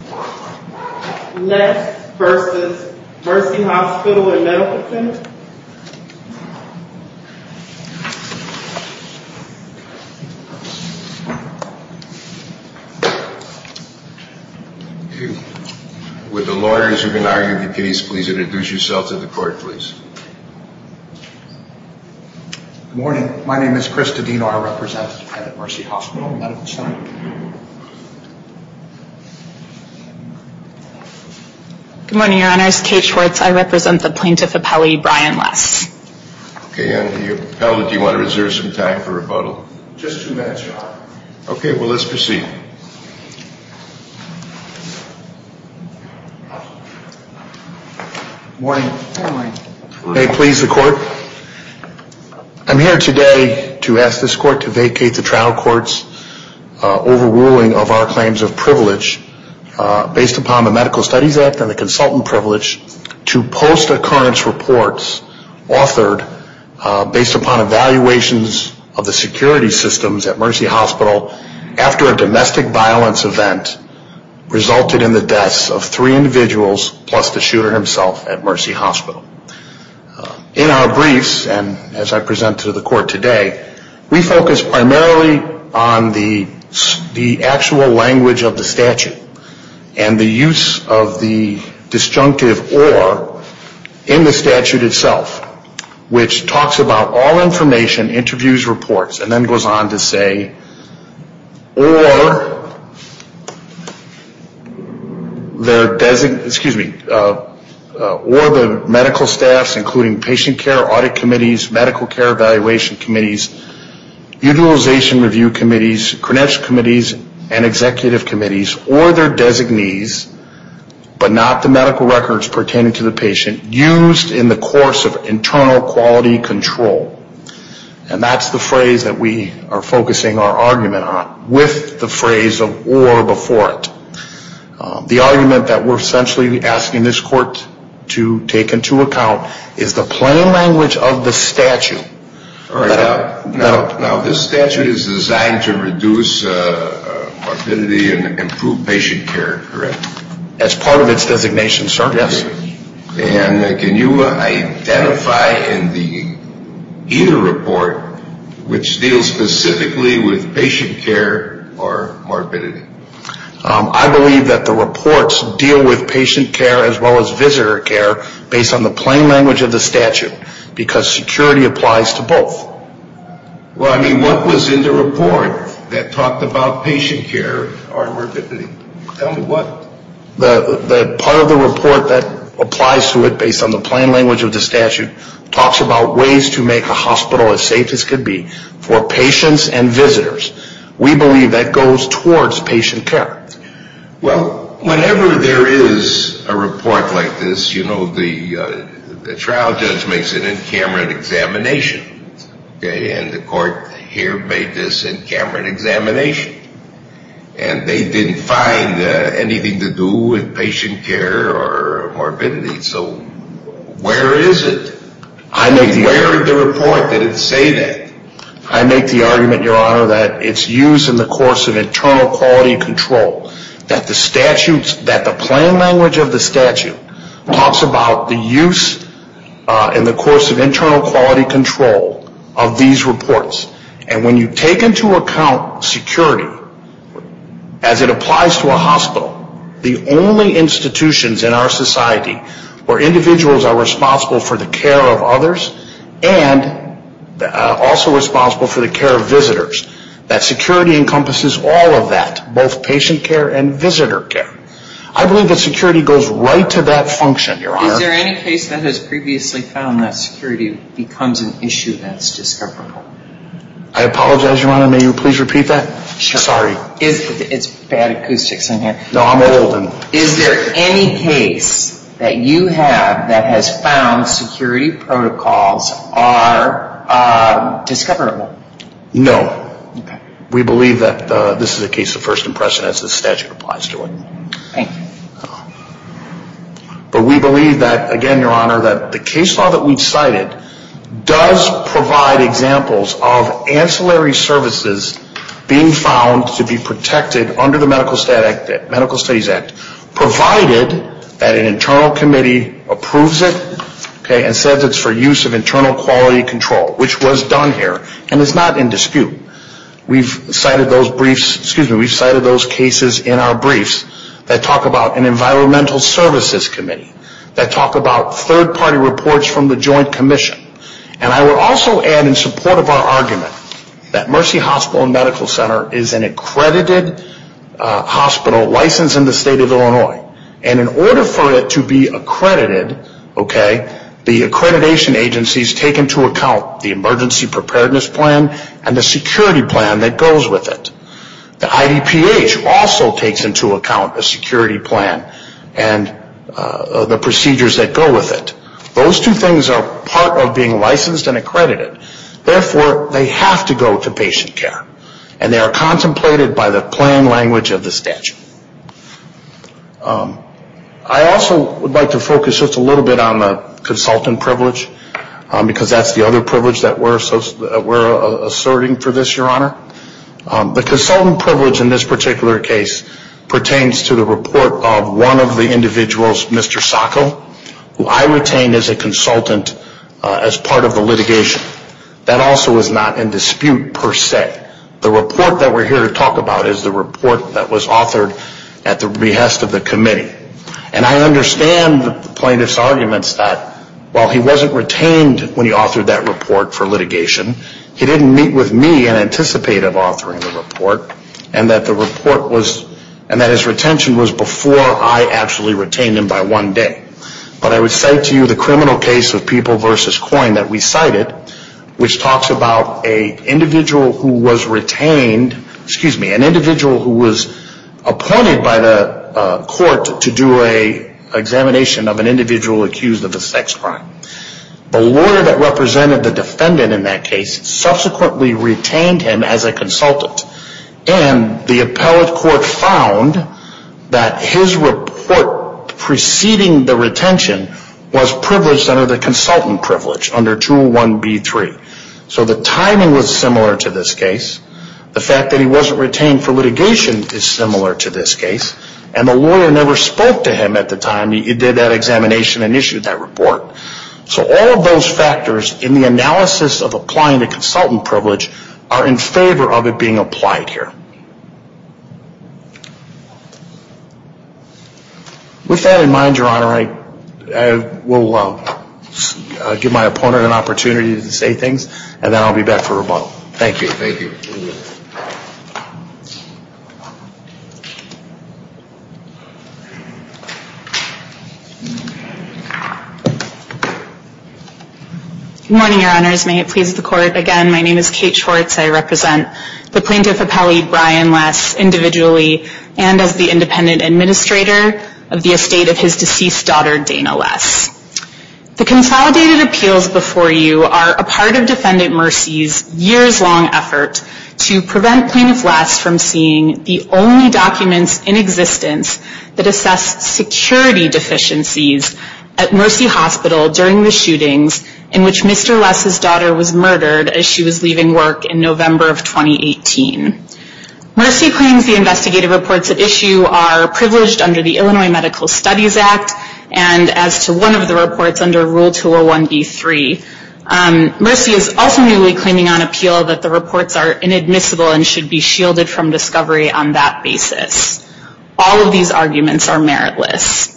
Next, versus Mercy Hospital and Medical Center. Would the lawyers who have been arguing the case please introduce yourselves to the court, please. Good morning. My name is Chris Tedino. I represent Mercy Hospital and Medical Center. Good morning, your honors. Kate Schwartz. I represent the plaintiff appellee, Brian Less. Okay, and the appellate, do you want to reserve some time for rebuttal? Just two minutes, your honor. Okay, well, let's proceed. Good morning. Good morning. May it please the court. I'm here today to ask this court to vacate the trial court's overruling of our claims of privilege based upon the Medical Studies Act and the consultant privilege to post-occurrence reports authored based upon evaluations of the security systems at Mercy Hospital after a domestic violence event resulted in the deaths of three individuals plus the shooter himself at Mercy Hospital. In our briefs and as I present to the court today, we focus primarily on the actual language of the statute and the use of the disjunctive or in the statute itself, which talks about all information, interviews, reports, and then goes on to say or the medical staffs including patient care audit committees, medical care evaluation committees, utilization review committees, credential committees, and executive committees or their designees, but not the medical records pertaining to the patient used in the course of internal quality control. And that's the phrase that we are focusing our argument on with the phrase of or before it. The argument that we're essentially asking this court to take into account is the plain language of the statute. Now this statute is designed to reduce morbidity and improve patient care, correct? As part of its designation, sir, yes. And can you identify in either report which deals specifically with patient care or morbidity? I believe that the reports deal with patient care as well as visitor care based on the plain language of the statute because security applies to both. Well, I mean, what was in the report that talked about patient care or morbidity? Tell me what. The part of the report that applies to it based on the plain language of the statute talks about ways to make a hospital as safe as can be for patients and visitors. We believe that goes towards patient care. Well, whenever there is a report like this, you know, the trial judge makes an in-camera examination. And the court here made this in-camera examination. And they didn't find anything to do with patient care or morbidity. So where is it? Where in the report did it say that? I make the argument, Your Honor, that it's used in the course of internal quality control, that the plain language of the statute talks about the use in the course of internal quality control of these reports. And when you take into account security as it applies to a hospital, the only institutions in our society where individuals are responsible for the care of others and also responsible for the care of visitors, that security encompasses all of that, both patient care and visitor care. I believe that security goes right to that function, Your Honor. Is there any case that has previously found that security becomes an issue that's discoverable? I apologize, Your Honor. May you please repeat that? Sure. Sorry. It's bad acoustics in here. No, I'm old. Is there any case that you have that has found security protocols are discoverable? No. Okay. We believe that this is a case of first impression as the statute applies to it. Thank you. But we believe that, again, Your Honor, that the case law that we've cited does provide examples of ancillary services being found to be protected under the Medical Studies Act provided that an internal committee approves it and says it's for use of internal quality control, which was done here, and it's not in dispute. We've cited those briefs, excuse me, we've cited those cases in our briefs that talk about an environmental services committee, that talk about third-party reports from the joint commission. And I will also add in support of our argument that Mercy Hospital and Medical Center is an accredited hospital licensed in the state of Illinois. And in order for it to be accredited, okay, the accreditation agencies take into account the emergency preparedness plan and the security plan that goes with it. The IDPH also takes into account a security plan and the procedures that go with it. Those two things are part of being licensed and accredited. Therefore, they have to go to patient care. And they are contemplated by the plan language of the statute. I also would like to focus just a little bit on the consultant privilege, because that's the other privilege that we're asserting for this, Your Honor. The consultant privilege in this particular case pertains to the report of one of the individuals, Mr. Sacco, who I retained as a consultant as part of the litigation. That also is not in dispute per se. The report that we're here to talk about is the report that was authored at the behest of the committee. And I understand the plaintiff's arguments that while he wasn't retained when he authored that report for litigation, he didn't meet with me and anticipate of authoring the report, and that his retention was before I actually retained him by one day. But I would cite to you the criminal case of People v. Coyne that we cited, which talks about an individual who was appointed by the court to do an examination of an individual accused of a sex crime. The lawyer that represented the defendant in that case subsequently retained him as a consultant. And the appellate court found that his report preceding the retention was privileged under the consultant privilege, under 201B3. So the timing was similar to this case. The fact that he wasn't retained for litigation is similar to this case. And the lawyer never spoke to him at the time he did that examination and issued that report. So all of those factors in the analysis of applying the consultant privilege are in favor of it being applied here. With that in mind, Your Honor, I will give my opponent an opportunity to say things, and then I'll be back for rebuttal. Thank you. Good morning, Your Honors. May it please the Court. Again, my name is Kate Schwartz. I represent the Plaintiff Appellee Brian Less individually, and as the independent administrator of the estate of his deceased daughter, Dana Less. The consolidated appeals before you are a part of Defendant Mercy's years-long effort to ensure that the plaintiff is prevent Plaintiff Less from seeing the only documents in existence that assess security deficiencies at Mercy Hospital during the shootings in which Mr. Less's daughter was murdered as she was leaving work in November of 2018. Mercy claims the investigative reports at issue are privileged under the Illinois Medical Studies Act, and as to one of the reports under Rule 201B3. Mercy is also newly claiming on appeal that the reports are inadmissible and should be shielded from discovery on that basis. All of these arguments are meritless.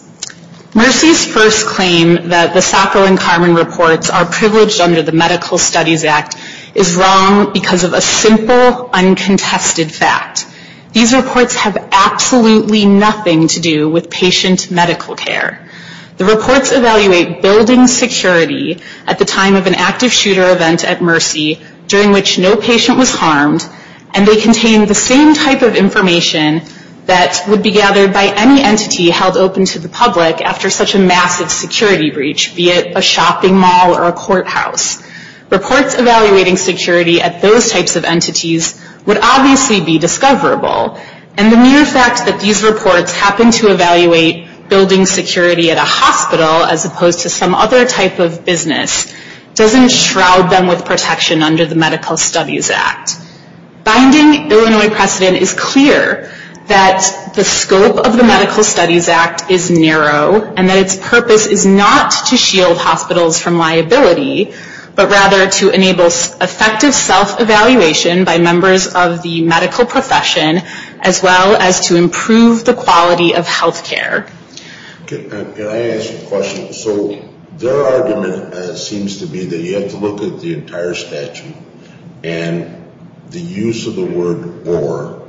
Mercy's first claim that the Sacro and Carmen reports are privileged under the Medical Studies Act is wrong because of a simple, uncontested fact. These reports have absolutely nothing to do with patient medical care. The reports evaluate building security at the time of an active shooter event at Mercy during which no patient was harmed, and they contain the same type of information that would be gathered by any entity held open to the public after such a massive security breach, be it a shopping mall or a courthouse. Reports evaluating security at those types of entities would obviously be discoverable, and the mere fact that these reports happen to evaluate building security at a hospital as opposed to some other type of business doesn't shroud them with protection under the Medical Studies Act. Binding Illinois precedent is clear that the scope of the Medical Studies Act is narrow, and that its purpose is not to shield hospitals from liability, but rather to enable effective self-evaluation by members of the medical profession, as well as to improve the quality of health care. Can I ask a question? So their argument seems to be that you have to look at the entire statute, and the use of the word or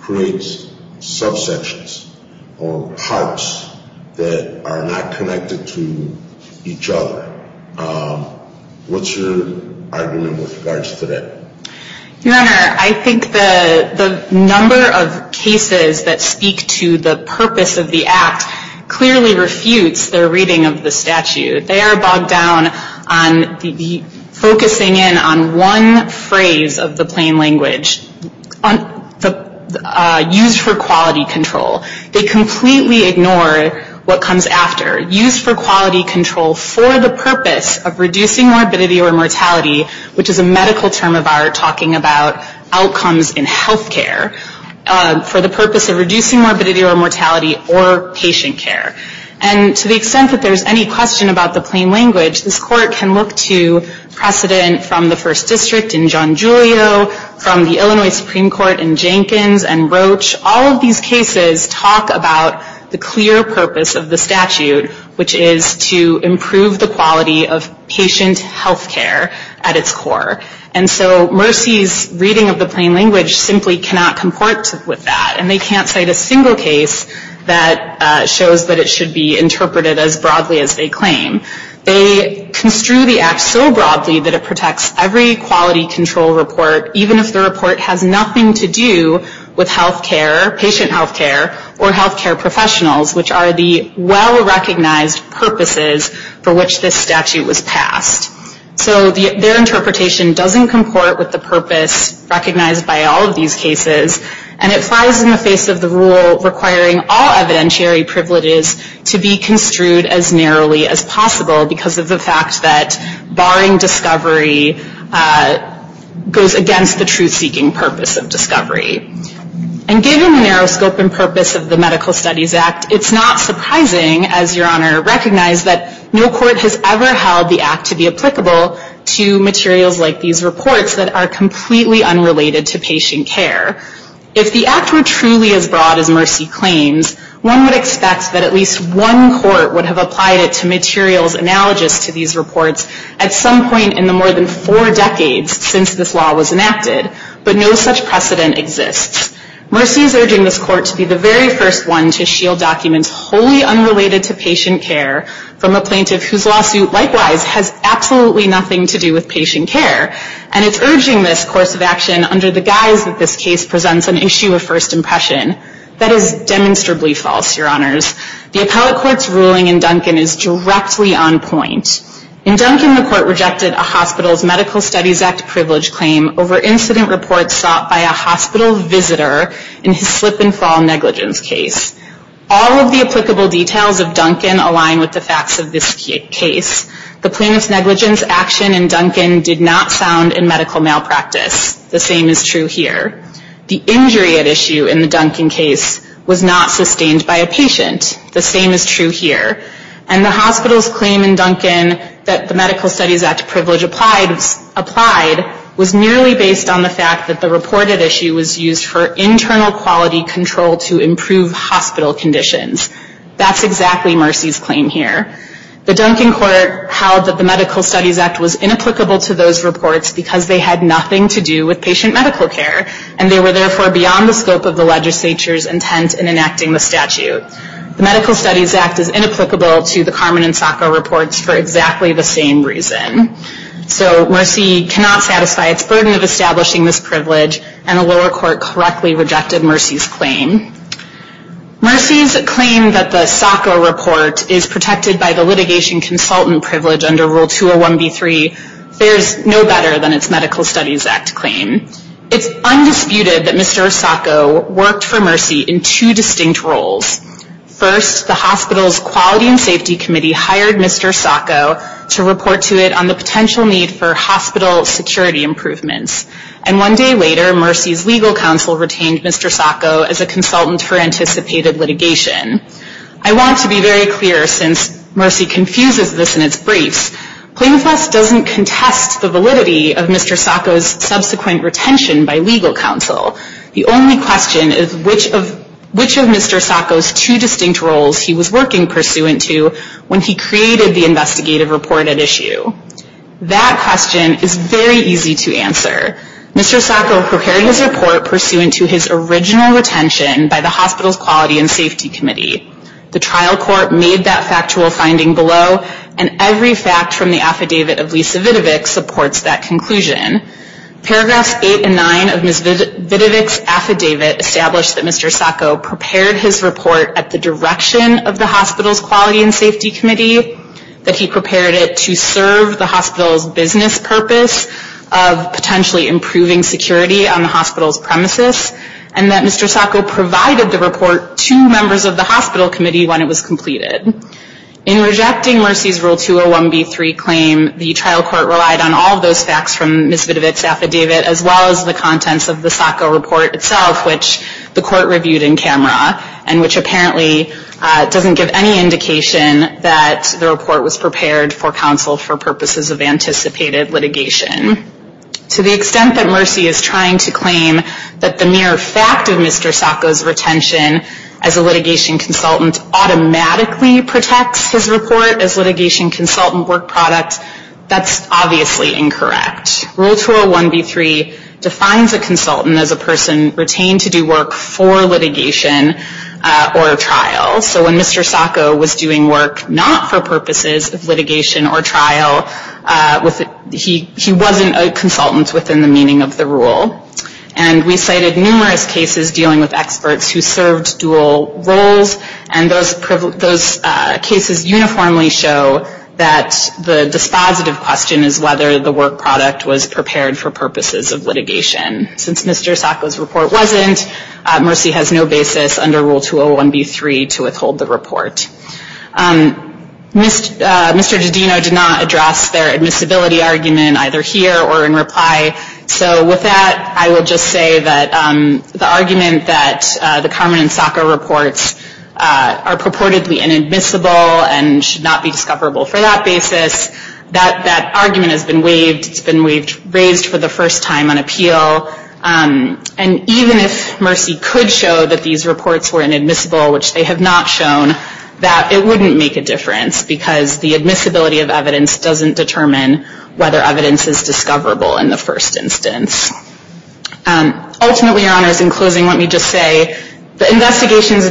creates subsections or parts that are not connected to each other. What's your argument with regards to that? Your Honor, I think the number of cases that speak to the purpose of the act clearly refutes their reading of the statute. They are bogged down on focusing in on one phrase of the plain language, used for quality control. They completely ignore what comes after. Used for quality control for the purpose of reducing morbidity or mortality, which is a medical term of ours talking about outcomes in health care, for the purpose of reducing morbidity or mortality or patient care. And to the extent that there's any question about the plain language, this court can look to precedent from the First District in John Julio, from the Illinois Supreme Court in Jenkins and Roach. All of these cases talk about the clear purpose of the statute, which is to improve the quality of patient health care at its core. And so Mercy's reading of the plain language simply cannot comport with that, and they can't cite a single case that shows that it should be interpreted as broadly as they claim. They construe the act so broadly that it protects every quality control report, even if the report has nothing to do with health care, patient health care, or health care professionals, which are the well-recognized purposes for which this statute was passed. So their interpretation doesn't comport with the purpose recognized by all of these cases, and it flies in the face of the rule requiring all evidentiary privileges to be construed as narrowly as possible, because of the fact that barring discovery goes against the truth-seeking purpose of discovery. And given the narrow scope and purpose of the Medical Studies Act, it's not surprising, as Your Honor recognized, that no court has ever held the act to be applicable to materials like these reports that are completely unrelated to patient care. If the act were truly as broad as Mercy claims, one would expect that at least one court would have applied it to materials analogous to these reports at some point in the more than four decades since this law was enacted. But no such precedent exists. Mercy is urging this court to be the very first one to shield documents wholly unrelated to patient care from a plaintiff whose lawsuit, likewise, has absolutely nothing to do with patient care, and it's urging this course of action under the guise that this case presents an issue of first impression. That is demonstrably false, Your Honors. The appellate court's ruling in Duncan is directly on point. In Duncan, the court rejected a hospital's Medical Studies Act privilege claim over incident reports sought by a hospital visitor in his slip-and-fall negligence case. All of the applicable details of Duncan align with the facts of this case. The plaintiff's negligence action in Duncan did not sound in medical malpractice. The same is true here. The injury at issue in the Duncan case was not sustained by a patient. The same is true here. And the hospital's claim in Duncan that the Medical Studies Act privilege applied was merely based on the fact that the reported issue was used for internal quality control to improve hospital conditions. That's exactly Mercy's claim here. The Duncan court held that the Medical Studies Act was inapplicable to those reports because they had nothing to do with patient medical care, and they were therefore beyond the scope of the legislature's intent in enacting the statute. The Medical Studies Act is inapplicable to the Carmen and Sacco reports for exactly the same reason. So Mercy cannot satisfy its burden of establishing this privilege, and the lower court correctly rejected Mercy's claim. Mercy's claim that the Sacco report is protected by the litigation consultant privilege under Rule 201B3 fares no better than its Medical Studies Act claim. It's undisputed that Mr. Sacco worked for Mercy in two distinct roles. First, the hospital's Quality and Safety Committee hired Mr. Sacco to report to it on the potential need for hospital security improvements. And one day later, Mercy's legal counsel retained Mr. Sacco as a consultant for anticipated litigation. I want to be very clear, since Mercy confuses this in its briefs, Plaintiff's List doesn't contest the validity of Mr. Sacco's subsequent retention by legal counsel. The only question is which of Mr. Sacco's two distinct roles he was working pursuant to when he created the investigative reported issue. That question is very easy to answer. Mr. Sacco prepared his report pursuant to his original retention by the hospital's Quality and Safety Committee. The trial court made that factual finding below, and every fact from the affidavit of Lisa Vidovic supports that conclusion. Paragraphs 8 and 9 of Ms. Vidovic's affidavit establish that Mr. Sacco prepared his report at the direction of the hospital's Quality and Safety Committee, that he prepared it to serve the hospital's business purpose of potentially improving security on the hospital's premises, and that Mr. Sacco provided the report to members of the hospital committee when it was completed. In rejecting Mercy's Rule 201B3 claim, the trial court relied on all of those facts from Ms. Vidovic's affidavit as well as the contents of the Sacco report itself, which the court reviewed in camera, and which apparently doesn't give any indication that the report was prepared for counsel for purposes of anticipated litigation. To the extent that Mercy is trying to claim that the mere fact of Mr. Sacco's retention as a litigation consultant automatically protects his report as litigation consultant work product, that's obviously incorrect. Rule 201B3 defines a consultant as a person retained to do work for litigation or trial. So when Mr. Sacco was doing work not for purposes of litigation or trial, he wasn't a consultant within the meaning of the rule. And we cited numerous cases dealing with experts who served dual roles, and those cases uniformly show that the dispositive question is whether the work product was prepared for purposes of litigation. Since Mr. Sacco's report wasn't, Mercy has no basis under Rule 201B3 to withhold the report. Mr. Didino did not address their admissibility argument either here or in reply. So with that, I will just say that the argument that the Carmen and Sacco reports are purportedly inadmissible and should not be discoverable for that basis, that argument has been waived. It's been raised for the first time on appeal. And even if Mercy could show that these reports were inadmissible, which they have not shown, that it wouldn't make a difference because the admissibility of evidence doesn't determine whether evidence is discoverable in the first instance. Ultimately, Your Honors, in closing, let me just say the investigations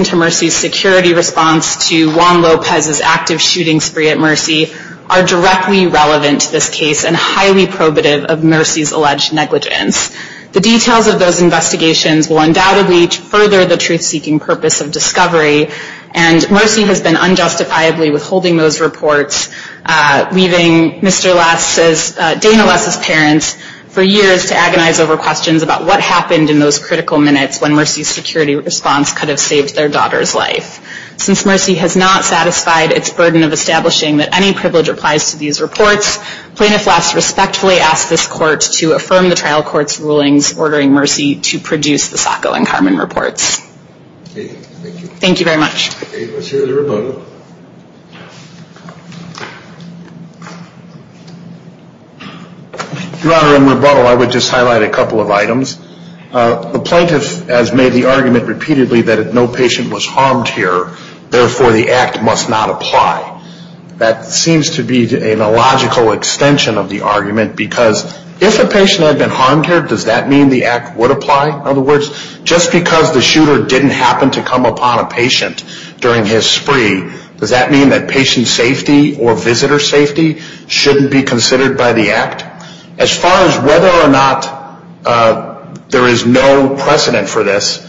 directly relevant to this case and highly probative of Mercy's alleged negligence. The details of those investigations will undoubtedly further the truth-seeking purpose of discovery, and Mercy has been unjustifiably withholding those reports, leaving Mr. Lass's, Dana Lass's parents for years to agonize over questions about what happened in those critical minutes when Mercy's security response could have saved their daughter's life. Since Mercy has not satisfied its burden of establishing that any privilege applies to these reports, Plaintiff Lass respectfully asks this court to affirm the trial court's rulings ordering Mercy to produce the Sacco and Carmen reports. Thank you. Thank you very much. Let's hear the rebuttal. Your Honor, in rebuttal, I would just highlight a couple of items. The plaintiff has made the argument repeatedly that no patient was harmed here, therefore the act must not apply. That seems to be an illogical extension of the argument because if a patient had been harmed here, does that mean the act would apply? In other words, just because the shooter didn't happen to come upon a patient during his spree, does that mean that patient safety or visitor safety shouldn't be considered by the act? As far as whether or not there is no precedent for this,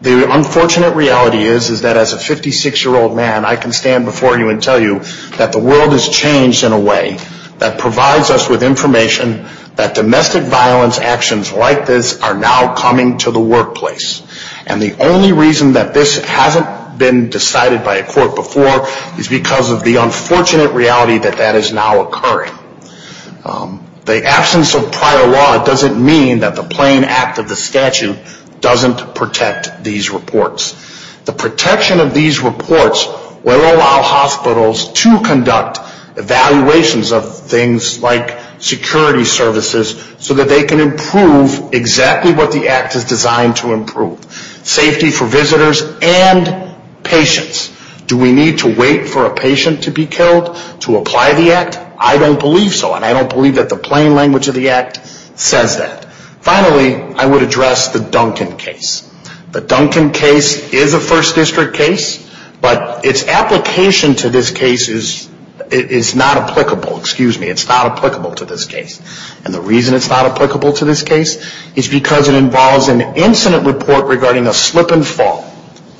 the unfortunate reality is that as a 56-year-old man, I can stand before you and tell you that the world has changed in a way that provides us with information that domestic violence actions like this are now coming to the workplace. And the only reason that this hasn't been decided by a court before is because of the unfortunate reality that that is now occurring. The absence of prior law doesn't mean that the plain act of the statute doesn't protect these reports. The protection of these reports will allow hospitals to conduct evaluations of things like security services so that they can improve exactly what the act is designed to improve, safety for visitors and patients. Do we need to wait for a patient to be killed to apply the act? I don't believe so. And I don't believe that the plain language of the act says that. Finally, I would address the Duncan case. The Duncan case is a first district case, but its application to this case is not applicable to this case. And the reason it's not applicable to this case is because it involves an incident report regarding a slip and fall.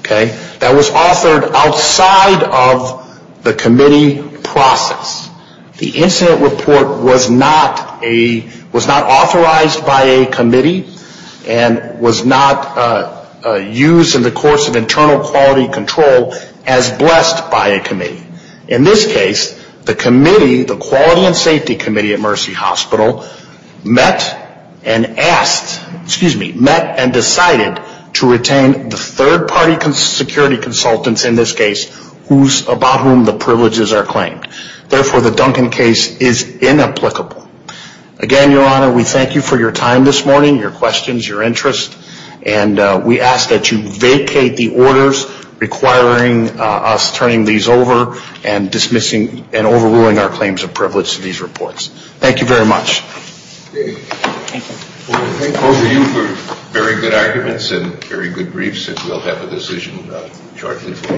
That was authored outside of the committee process. The incident report was not authorized by a committee and was not used in the course of internal quality control as blessed by a committee. In this case, the quality and safety committee at Mercy Hospital met and decided to retain the third party security consultants in this case, about whom the privileges are claimed. Therefore, the Duncan case is inapplicable. Again, Your Honor, we thank you for your time this morning, your questions, your interest. And we ask that you vacate the orders requiring us turning these over and dismissing and overruling our claims of privilege to these reports. Thank you very much. Thank you. Thank both of you for very good arguments and very good briefs, and we'll have a decision shortly.